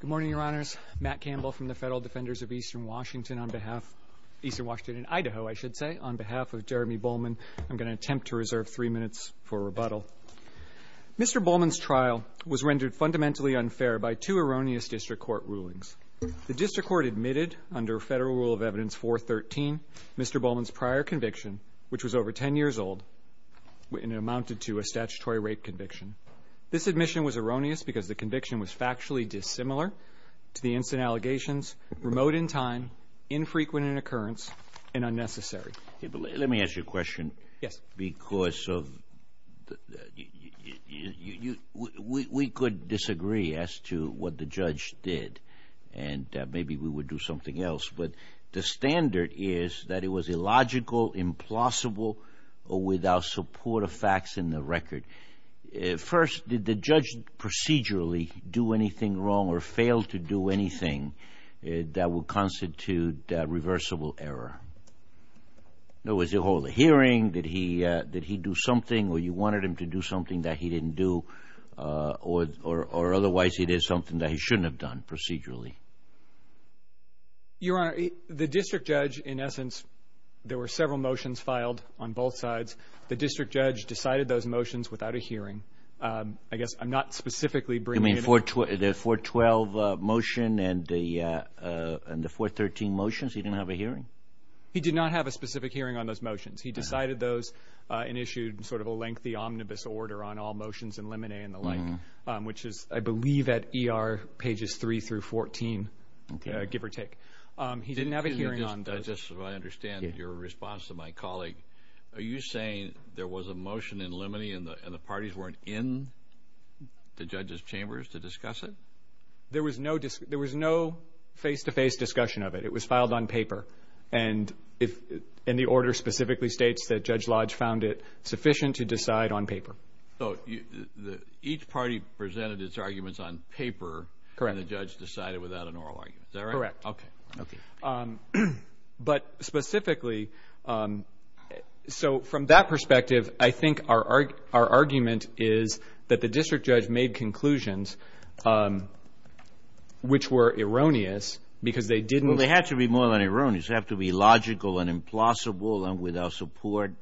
Good morning, your honors. Matt Campbell from the Federal Defenders of Eastern Washington on behalf of Eastern Washington in Idaho, I should say, on behalf of Jeremy Bohlman. I'm going to attempt to reserve three minutes for rebuttal. Mr. Bohlman's trial was rendered fundamentally unfair by two erroneous district court rulings. The district court admitted under federal rule of evidence 413, Mr. Bohlman's prior conviction, which was over 10 years old, and it amounted to a statutory rape conviction. This admission was erroneous because the conviction was factually dissimilar to the instant allegations, remote in time, infrequent in occurrence, and unnecessary. Let me ask you a question. Yes. Because we could disagree as to what the judge did, and maybe we would do something else, but the standard is that it was illogical, implausible, or without support of facts in the record. First, did the judge procedurally do anything wrong or fail to do anything that would constitute reversible error? Was there a whole hearing? Did he do something, or you wanted him to do something that he didn't do, or otherwise it is something that he shouldn't have done procedurally? Your honor, the district judge, in essence, there were several motions filed on both sides. The district judge decided those motions without a hearing. I guess I'm not specifically bringing it up. You mean the 412 motion and the 413 motions? He didn't have a hearing? He did not have a specific hearing on those motions. He decided those and issued sort of a lengthy omnibus order on all motions and lemonade and the like, which is, I believe, at ER pages 3 through 14, give or take. He didn't have a hearing on those. I understand your response to my colleague. Are you saying there was a motion in limine and the parties weren't in the judges chambers to discuss it? There was no face-to-face discussion of it. It was filed on paper, and the order specifically states that Judge Lodge found it sufficient to decide on paper. So each party presented its arguments on paper, and the judge decided without an oral argument. Is that right? Correct. But specifically, so from that perspective, I think our argument is that the district judge made conclusions which were erroneous because they didn't... Well, they had to be more than erroneous. They have to be logical and implausible and without support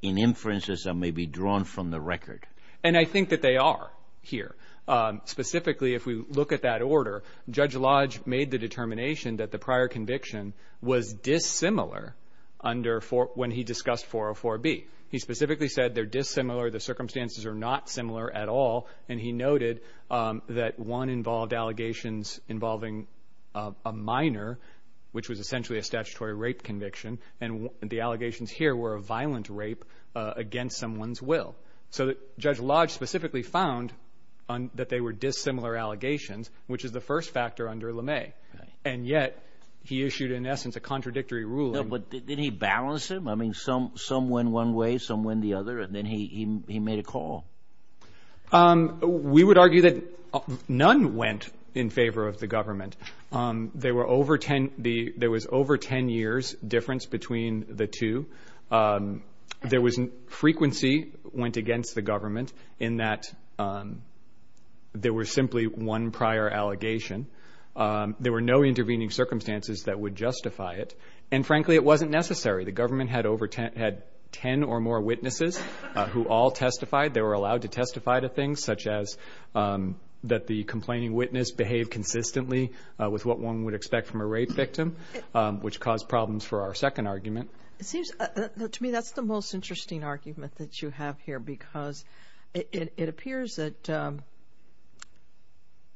in inferences that may be drawn from the record. And I think that they are here. Specifically, if we look at that order, Judge Lodge made the determination that the prior conviction was dissimilar under when he discussed 404B. He specifically said they're dissimilar, the circumstances are not similar at all, and he noted that one involved allegations involving a minor, which was essentially a statutory rape conviction, and the allegations here were a violent rape against someone's will. So Judge Lodge specifically found that they were dissimilar allegations, which is the first factor under LeMay, and yet he issued, in essence, a contradictory ruling. But didn't he balance them? I mean, some some went one way, some went the other, and then he made a call. We would argue that none went in favor of the government. There were over ten... there was... frequency went against the government in that there were simply one prior allegation. There were no intervening circumstances that would justify it. And frankly, it wasn't necessary. The government had over... had ten or more witnesses who all testified. They were allowed to testify to things such as that the complaining witness behaved consistently with what one would expect from a rape victim, which caused problems for our second argument. It That's the most interesting argument that you have here, because it appears that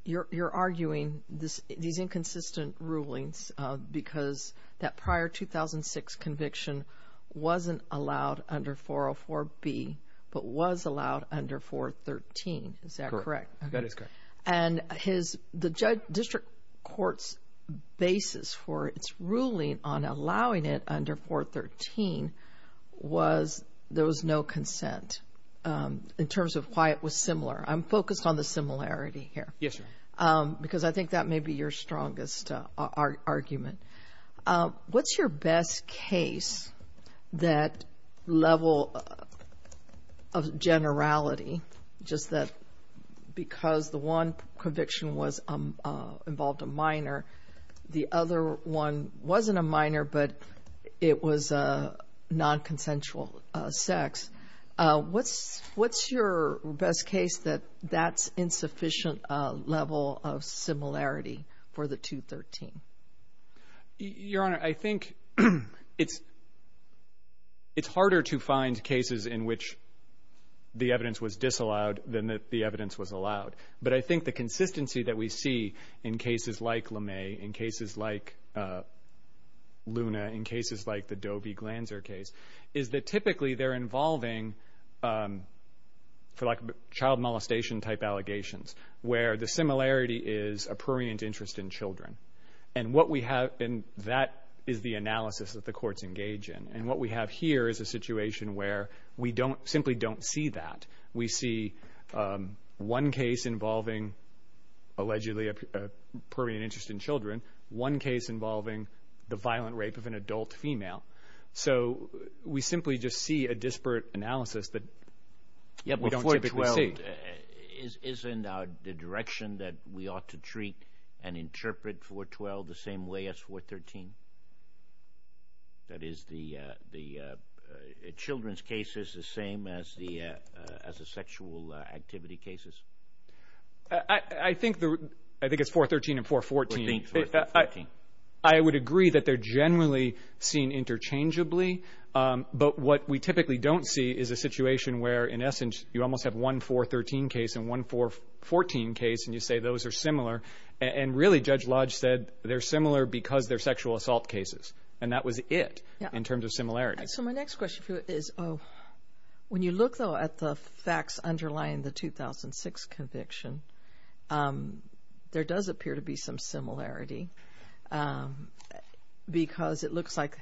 you're arguing this... these inconsistent rulings because that prior 2006 conviction wasn't allowed under 404 B, but was allowed under 413. Is that correct? That is correct. And his... the district court's basis for its ruling on was there was no consent in terms of why it was similar. I'm focused on the similarity here. Yes, sir. Because I think that may be your strongest argument. What's your best case that level of generality, just that because the one conviction was involved a minor, the other one wasn't a minor, but it was a non-consensual sex, what's... what's your best case that that's insufficient level of similarity for the 213? Your Honor, I think it's... it's harder to find cases in which the evidence was disallowed than that the evidence was allowed. But I think the consistency that we see in cases like LeMay, in cases like Luna, in cases like the Dobie-Glanzer case, is that typically they're involving, for lack of... child molestation type allegations, where the similarity is a prurient interest in children. And what we have... and that is the analysis that the courts engage in. And what we have here is a situation where we don't... simply don't see that. We see one case involving, allegedly, a prurient interest in children, one case involving the violent rape of an adult female. So we simply just see a disparate analysis that we don't typically see. Yeah, but 412, isn't the direction that we ought to treat and interpret 412 the same way as 413? That is the... the children's cases the same as the... as the I think it's 413 and 414. I would agree that they're generally seen interchangeably. But what we typically don't see is a situation where, in essence, you almost have one 413 case and one 414 case, and you say those are similar. And really, Judge Lodge said, they're similar because they're sexual assault cases. And that was it, in terms of similarities. So my next question for you is, when you look, though, at the facts underlying the 2006 conviction, there does appear to be some similarity. Because it looks like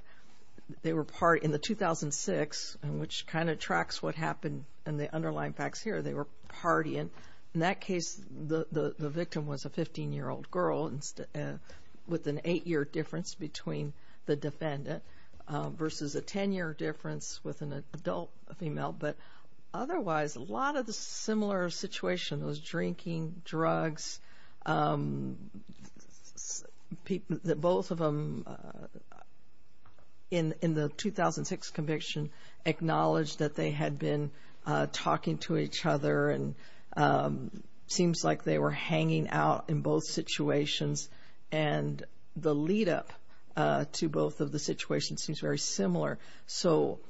they were part... in the 2006, which kind of tracks what happened in the underlying facts here, they were partying. In that case, the victim was a 15-year-old girl with an eight-year difference between the defendant versus a ten-year difference with an adult female. But otherwise, a lot of the similar situation was drinking, drugs. Both of them, in the 2006 conviction, acknowledged that they had been talking to each other, and seems like they were hanging out in both situations. And the lead-up to both of the situations seems very similar. So,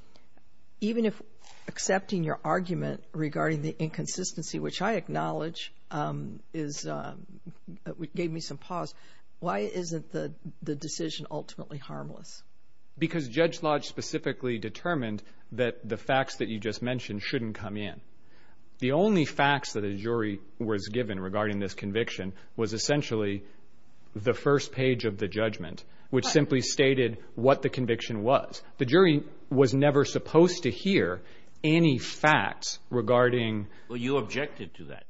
even if accepting your argument regarding the inconsistency, which I acknowledge, is... gave me some pause, why isn't the decision ultimately harmless? Because Judge Lodge specifically determined that the facts that you just mentioned shouldn't come in. The only facts that a jury was given regarding this conviction was essentially the first page of the judgment, which simply stated what the conviction was. The jury was never supposed to hear any facts regarding... Well, you objected to that.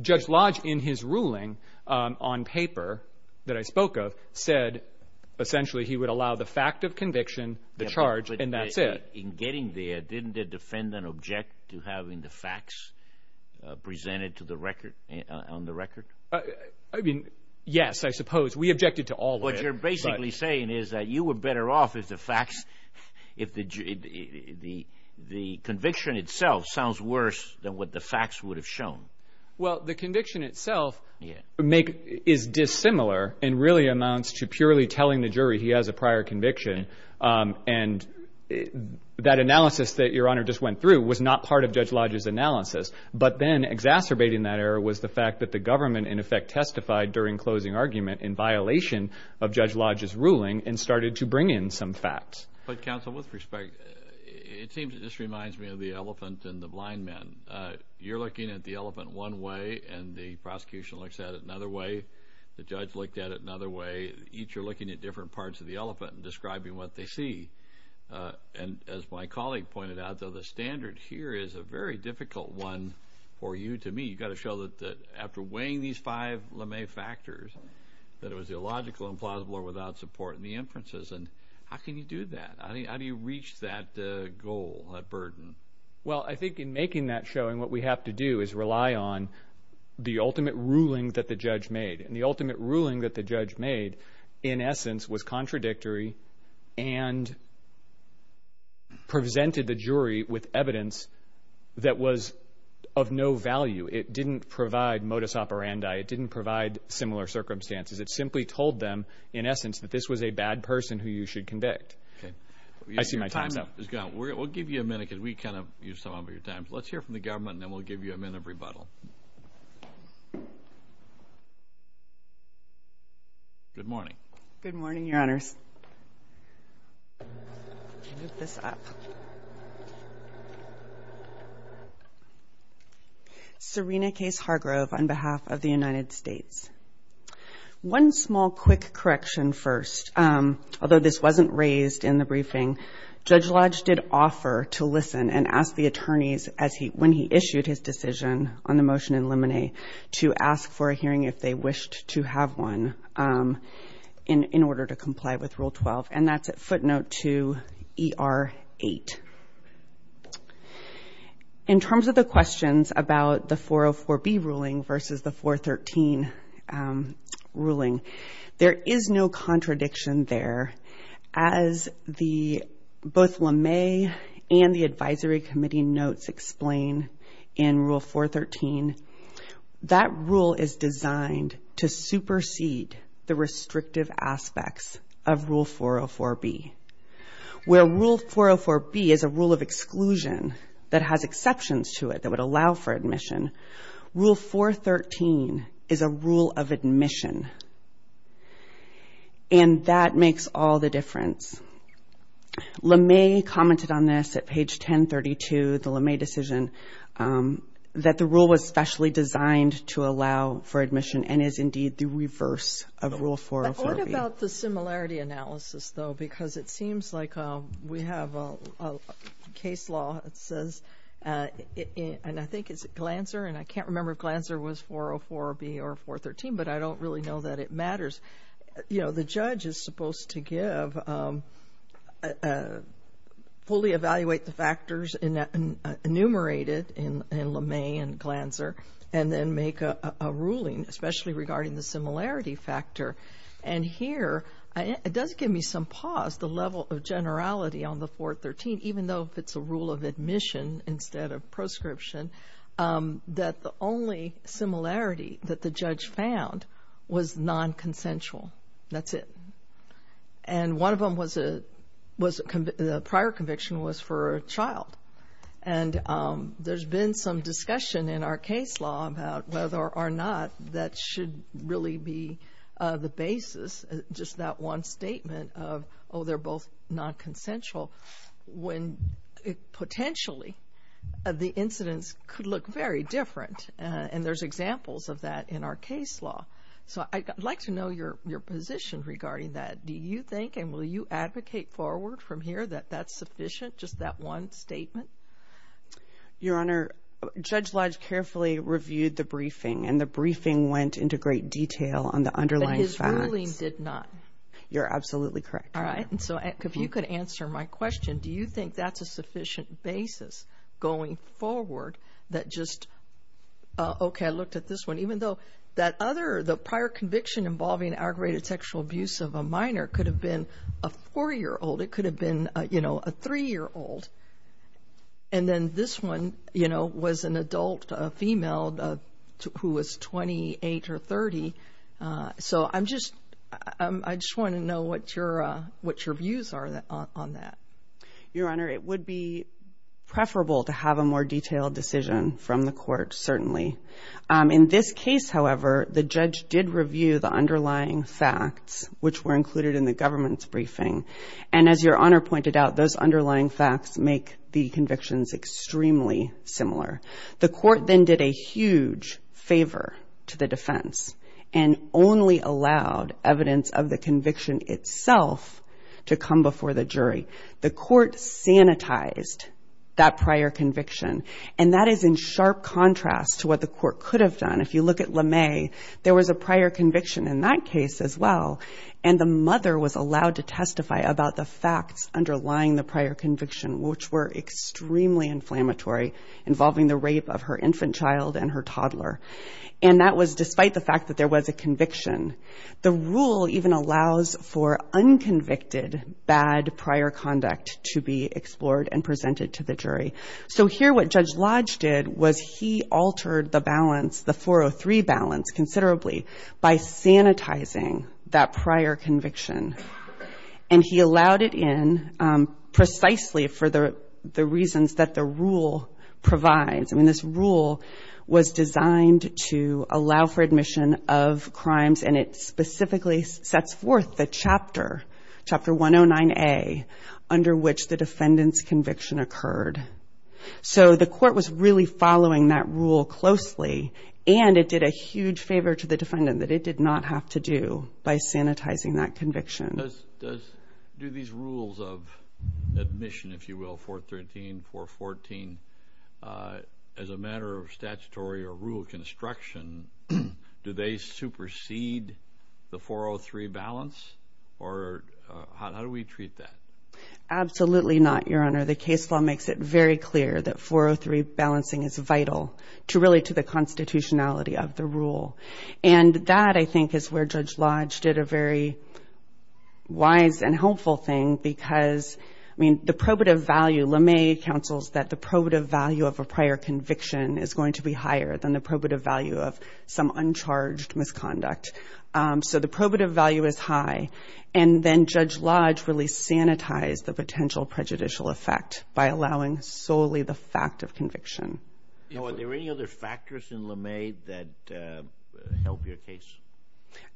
Judge Lodge, in his ruling on paper that I spoke of, said, essentially, he would allow the fact of conviction, the charge, and that's it. In getting there, didn't the defendant object to having the facts presented to the record? I mean, yes, I suppose. We objected to all of it. What you're basically saying is that you were better off if the facts... if the conviction itself sounds worse than what the facts would have shown. Well, the conviction itself is dissimilar, and really amounts to purely telling the jury he has a prior conviction. And that analysis that Your Honor just went through was not part of Judge Lodge's analysis. But then, exacerbating that error was the fact that the government, in effect, testified during closing argument in violation of Judge Lodge's ruling and started to bring in some facts. But, counsel, with respect, it seems... this reminds me of the elephant and the blind man. You're looking at the elephant one way, and the prosecution looks at it another way. The judge looked at it another way. Each are looking at different parts of the elephant and describing what they see. And as my standard here is a very difficult one for you to meet. You've got to show that after weighing these five LeMay factors, that it was illogical, implausible, or without support in the inferences. And how can you do that? How do you reach that goal, that burden? Well, I think in making that showing, what we have to do is rely on the ultimate ruling that the judge made. And the ultimate ruling that the judge made, in essence, was contradictory and presented the jury with evidence that was of no value. It didn't provide modus operandi. It didn't provide similar circumstances. It simply told them, in essence, that this was a bad person who you should convict. I see my time's up. We'll give you a minute, because we kind of use some of your time. Let's hear from the government, and then we'll give you a minute of rebuttal. Good morning. Good morning, Your Honors. Move this up. Serena Case Hargrove, on behalf of the United States. One small, quick correction first. Although this wasn't raised in the briefing, Judge Lodge did offer to listen and ask the attorneys when he issued his decision on the motion in Lemonnet to ask for a hearing if they wished to have one in order to comply with Rule 12. And that's footnote 2ER8. In terms of the questions about the 404B ruling versus the 413 ruling, there is no contradiction there. As both Lemay and the Advisory Committee notes explain in Rule 413, that rule is designed to supersede the restrictive aspects of Rule 404B. Where Rule 404B is a rule of exclusion that has exceptions to it that would allow for admission, Rule 413 is a rule of admission. And that makes all the difference. Lemay commented on this at page 1032, the Lemay decision, that the rule was specially designed to allow for admission and is indeed the reverse of Rule 404B. What about the similarity analysis, though? Because it seems like we have a case law that says, and I think it's Glanzer, and I can't remember if Glanzer was 404B or 413, but I don't really know that it matters. The judge is supposed to fully evaluate the factors enumerated in Lemay and Glanzer and then make a ruling, especially regarding the similarity factor. And here, it does give me some pause, the level of generality on the 413, even though it's a rule of admission instead of proscription, that the only similarity that the judge found was nonconsensual. That's it. And one of them was a prior conviction was for a child. And there's been some discussion in our case law about whether or not that should really be the basis, just that one statement of, oh, they're both nonconsensual, when potentially the incidents could look very different. And there's examples of that in our case law. So I'd like to know your position regarding that. Do you think and will you advocate forward from here that that's sufficient, just that one statement? Your Honor, Judge Lodge carefully reviewed the briefing and the briefing went into great detail on the underlying facts. But his ruling did not. You're absolutely correct. All right. And so if you could answer my question, do you think that's a sufficient basis going forward that just, okay, I looked at this one, even though that other, the prior conviction involving aggravated sexual abuse of a minor could have been a four-year-old, it could have been, you know, a three-year-old. And then this one, you know, was an adult female who was 28 or 30. So I'm just, I just want to know what your, what your views are on that. Your Honor, it would be preferable to have a more detailed decision from the court, certainly. In this case, however, the judge did review the underlying facts, which were included in the government's briefing. And as your Honor pointed out, those underlying facts make the convictions extremely similar. The court then did a huge favor to the defense and only allowed evidence of the conviction itself to come before the jury. The court sanitized that prior conviction. And that is in sharp contrast to what the court could have done. If you look at LeMay, there was a prior conviction in that case as well. And the mother was allowed to testify about the facts underlying the prior conviction, which were extremely inflammatory, involving the rape of her infant child and her toddler. And that was despite the fact that there was a conviction. The rule even allows for unconvicted bad prior conduct to be explored and presented to the jury. So here what Judge Lodge did was he altered the balance, the 403 balance considerably by sanitizing that prior conviction. And he allowed it in precisely for the reasons that the rule provides. I mean, this rule was designed to allow for admission of crimes. And it specifically sets forth the chapter, Chapter 109A, under which the defendant's conviction occurred. So the court was really following that rule closely. And it did a huge favor to the defendant that it did not have to do by sanitizing that conviction. Do these rules of admission, if you will, 413, 414, as a matter of statutory or how do we treat that? Absolutely not, Your Honor. The case law makes it very clear that 403 balancing is vital to really to the constitutionality of the rule. And that, I think, is where Judge Lodge did a very wise and helpful thing because, I mean, the probative value, LeMay counsels that the probative value of a prior conviction is going to be higher than the probative value of some uncharged misconduct. So the then Judge Lodge really sanitized the potential prejudicial effect by allowing solely the fact of conviction. Now, are there any other factors in LeMay that help your case?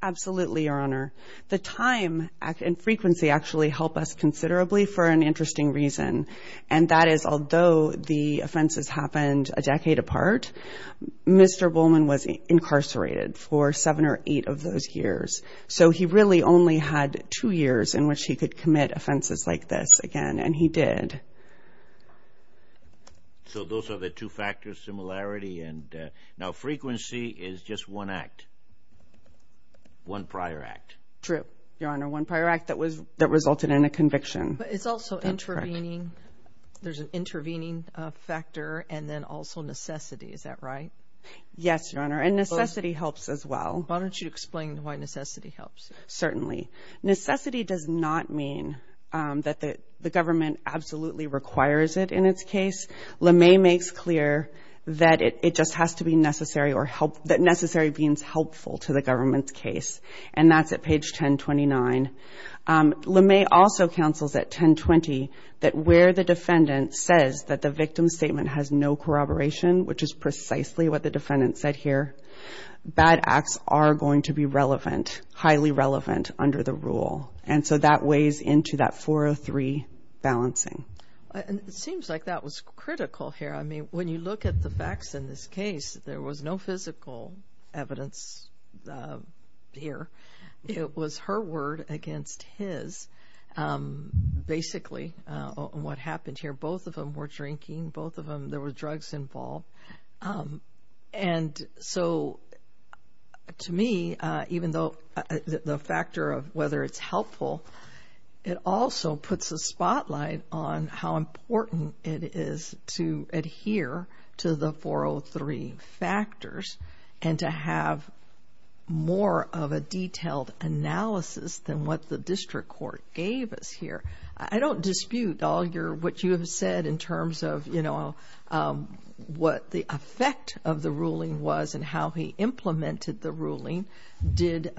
Absolutely, Your Honor. The time and frequency actually help us considerably for an interesting reason. And that is, although the offenses happened a decade apart, Mr. Bowman was incarcerated for seven or eight of those years. So he really only had two years in which he could commit offenses like this again, and he did. So those are the two factors, similarity, and now frequency is just one act, one prior act. True, Your Honor, one prior act that resulted in a conviction. But it's also intervening. There's an intervening factor and then also necessity, is that right? Yes, Your Honor, and necessity helps as well. Why don't you explain why necessity helps? Certainly. Necessity does not mean that the government absolutely requires it in its case. LeMay makes clear that it just has to be necessary or that necessary means helpful to the government's case, and that's at page 1029. LeMay also counsels at 1020 that where the defendant says that the victim's statement has no relevance, the facts are going to be relevant, highly relevant under the rule. And so that weighs into that 403 balancing. It seems like that was critical here. I mean, when you look at the facts in this case, there was no physical evidence here. It was her word against his. Basically, what happened here, both of them were drinking, both of them, there were drugs involved. And so to me, even though the factor of whether it's helpful, it also puts a spotlight on how important it is to adhere to the 403 factors and to have more of a detailed analysis than what the district court gave us here. I don't know what the effect of the ruling was and how he implemented the ruling, did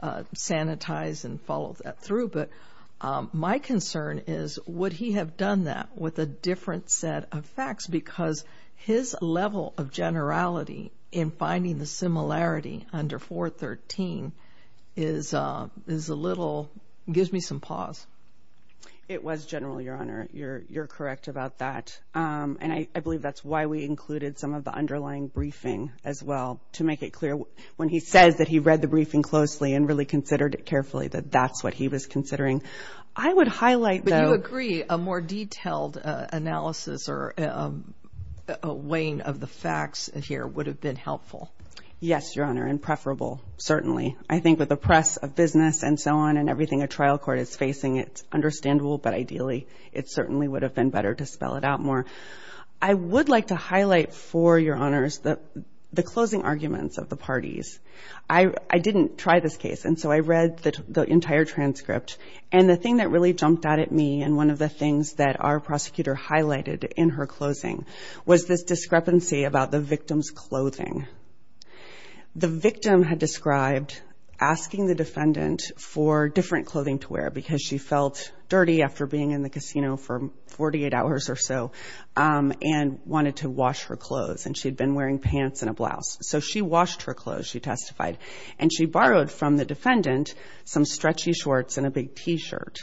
sanitize and follow that through. But my concern is, would he have done that with a different set of facts? Because his level of generality in finding the similarity under 413 is a little, gives me some pause. It was general, Your Honor. You're correct about that. And I believe that's why we included some of the underlying briefing as well, to make it clear when he says that he read the briefing closely and really considered it carefully, that that's what he was considering. I would highlight, though... But you agree a more detailed analysis or weighing of the facts here would have been helpful? Yes, Your Honor. And preferable, certainly. I think with the press of business and so on and everything a trial court is facing, it's understandable, but ideally it certainly would have been better to spell it out more. I would like to highlight for Your Honors the closing arguments of the parties. I didn't try this case, and so I read the entire transcript. And the thing that really jumped out at me and one of the things that our prosecutor highlighted in her closing was this woman who testified for different clothing to wear because she felt dirty after being in the casino for 48 hours or so and wanted to wash her clothes. And she had been wearing pants and a blouse. So she washed her clothes, she testified. And she borrowed from the defendant some stretchy shorts and a big T-shirt.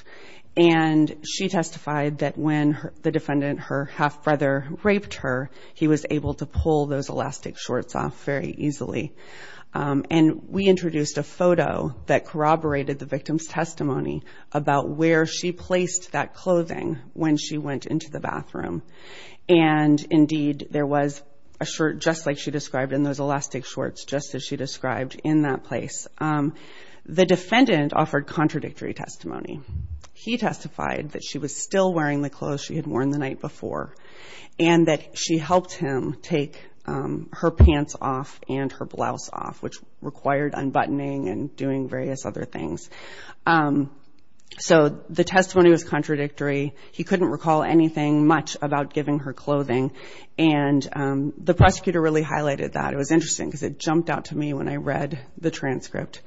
And she testified that when the defendant, her half-brother, raped her, he was able to pull those elastic shorts off very easily. And we introduced a photo that corroborated the victim's testimony about where she placed that clothing when she went into the bathroom. And, indeed, there was a shirt just like she described in those elastic shorts, just as she described in that place. The defendant offered contradictory testimony. He testified that she was still wearing the clothes she had worn the night before and that she helped him take her pants off and her blouse off, which required unbuttoning and doing various other things. So the testimony was contradictory. He couldn't recall anything much about giving her clothing. And the prosecutor really highlighted that. It was interesting because it jumped out to me when I read the transcript.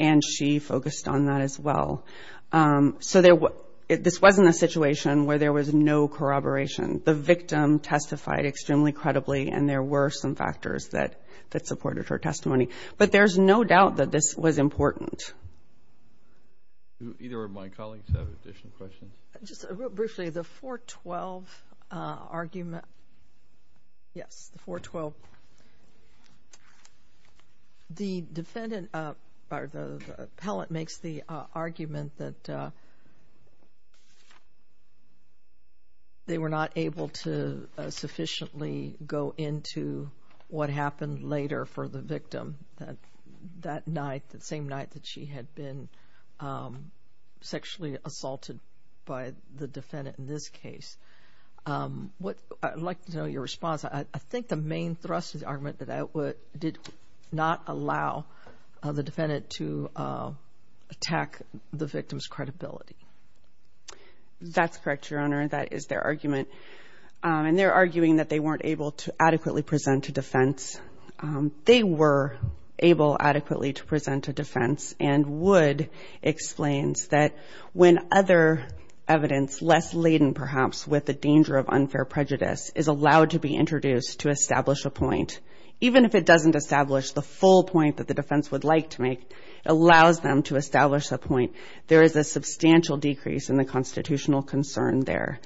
And she focused on that as well. So this wasn't a corroboration. The victim testified extremely credibly. And there were some factors that supported her testimony. But there's no doubt that this was important. Either of my colleagues have additional questions? Just real briefly, the 412 argument. Yes, the 412. The defendant or the appellate makes the argument that they were not able to sufficiently go into what happened later for the victim that night, the same night that she had been sexually assaulted by the defendant in this case. I'd like to know your response. I think the main thrust of the argument is that it did not allow the defendant to attack the defendant. And the appellate makes the argument, and they're arguing that they weren't able to adequately present a defense. They were able adequately to present a defense. And Wood explains that when other evidence less laden perhaps with the danger of unfair prejudice is allowed to be introduced to establish a point, even if it doesn't establish the full point that the defense would like to make, it allows them to establish a point. There is a substantial decrease in the constitutional concern there.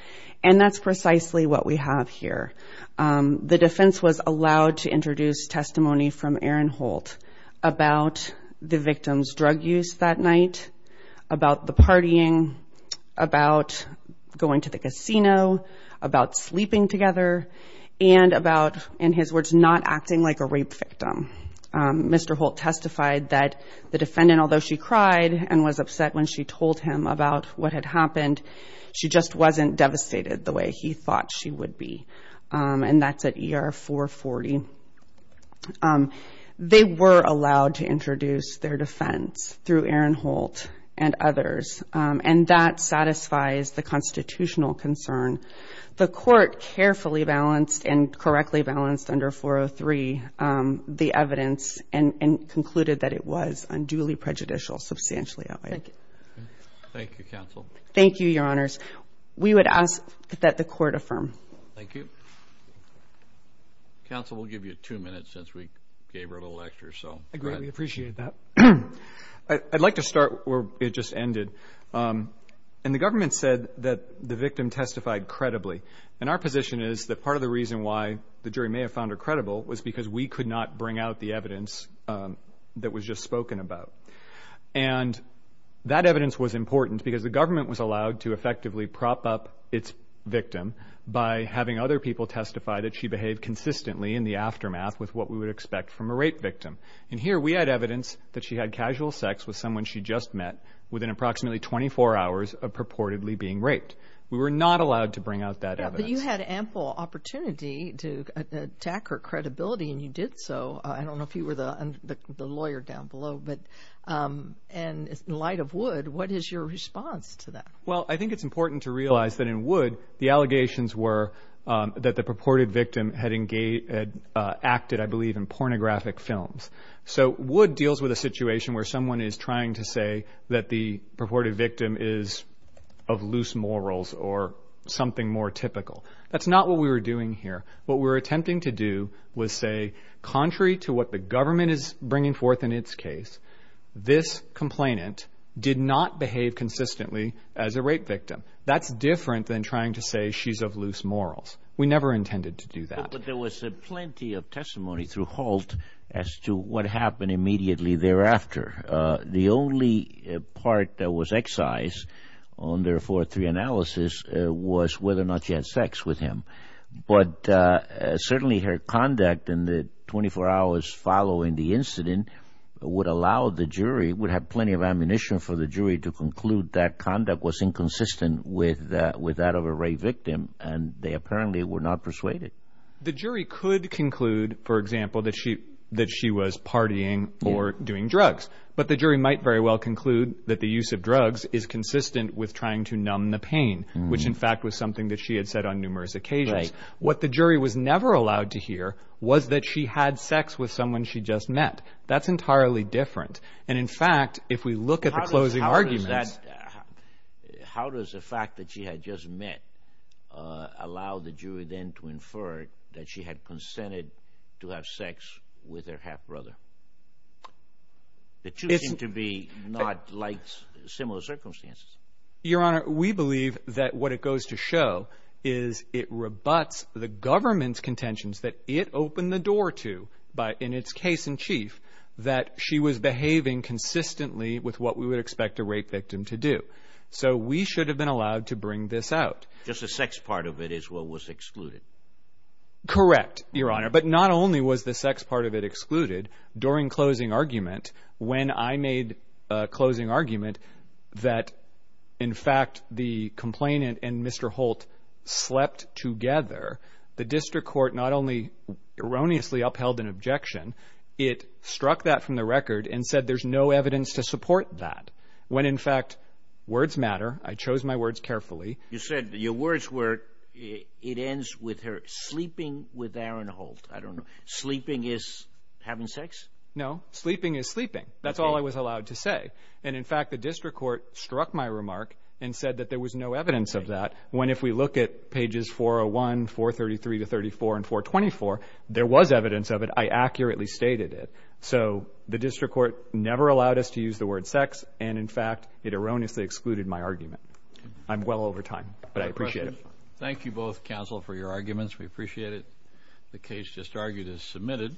And that's precisely what we have here. The defense was allowed to introduce testimony from Aaron Holt about the victim's drug use that night, about the partying, about going to the casino, about sleeping together, and about, in his words, not acting like a rape victim. Mr. Holt testified that the defendant, although she cried and was upset when she told him about what had happened, she just wasn't devastated the way he thought she would be. And that's at ER 440. They were allowed to introduce their defense through Aaron Holt and others. And that satisfies the constitutional concern. The court carefully balanced and reviewed the evidence and concluded that it was unduly prejudicial, substantially outweighed. Thank you. Thank you, Counsel. Thank you, Your Honors. We would ask that the court affirm. Thank you. Counsel, we'll give you two minutes since we gave her a little lecture, so go ahead. I greatly appreciate that. I'd like to start where it just ended. And the government said that the victim testified credibly. And our position is that part of the reason why the jury may have found her credible was because we could not bring out the evidence that was just spoken about. And that evidence was important because the government was allowed to effectively prop up its victim by having other people testify that she behaved consistently in the aftermath with what we would expect from a rape victim. And here we had evidence that she had casual sex with someone she just met within approximately 24 hours of purportedly being raped. We were not allowed to bring out that evidence. Yeah, but you had ample opportunity to attack her credibility, and you did so. I don't know if you were the lawyer down below. And in light of Wood, what is your response to that? Well, I think it's important to realize that in Wood, the allegations were that the purported victim had acted, I believe, in pornographic films. So Wood deals with a something more typical. That's not what we were doing here. What we were attempting to do was say, contrary to what the government is bringing forth in its case, this complainant did not behave consistently as a rape victim. That's different than trying to say she's of loose morals. We never intended to do that. But there was plenty of testimony through Holt as to what happened immediately thereafter. The only part that was excised on their 4-3 analysis was whether or not she had sex with him. But certainly her conduct in the 24 hours following the incident would allow the jury, would have plenty of ammunition for the jury to conclude that conduct was inconsistent with that of a rape victim, and they apparently were not persuaded. The jury could conclude, for example, that she was partying or doing drugs. But the jury might very well conclude that the use of drugs is consistent with trying to numb the pain, which in fact was something that she had said on numerous occasions. What the jury was never allowed to hear was that she had sex with someone she just met. That's entirely different. And in fact, if we look at the closing arguments... ...that she had consented to have sex with her half-brother. The two seem to be not like similar circumstances. Your Honor, we believe that what it goes to show is it rebuts the government's contentions that it opened the door to, in its case in chief, that she was behaving consistently with what we would expect a rape victim to do. So we should have been allowed to bring this out. Just the sex part of it is what was excluded. Correct, Your Honor. But not only was the sex part of it excluded. During closing argument, when I made a closing argument that in fact the complainant and Mr. Holt slept together, the district court not only erroneously upheld an objection, it struck that from the record and said there's no evidence to support that. When in fact, words matter. I chose my words carefully. You said your words were it ends with her sleeping with Aaron Holt. I don't know. Sleeping is having sex? No. Sleeping is sleeping. That's all I was allowed to say. And in fact, the district court struck my remark and said that there was no evidence of that. When if we look at pages 401, 433 to 34 and 424, there was evidence of it. I accurately stated it. So the district court never allowed us to use the word sex. And in fact, it erroneously excluded my argument. I'm well over time, but I appreciate it. Thank you both, counsel, for your arguments. We appreciate it. The case just argued is submitted.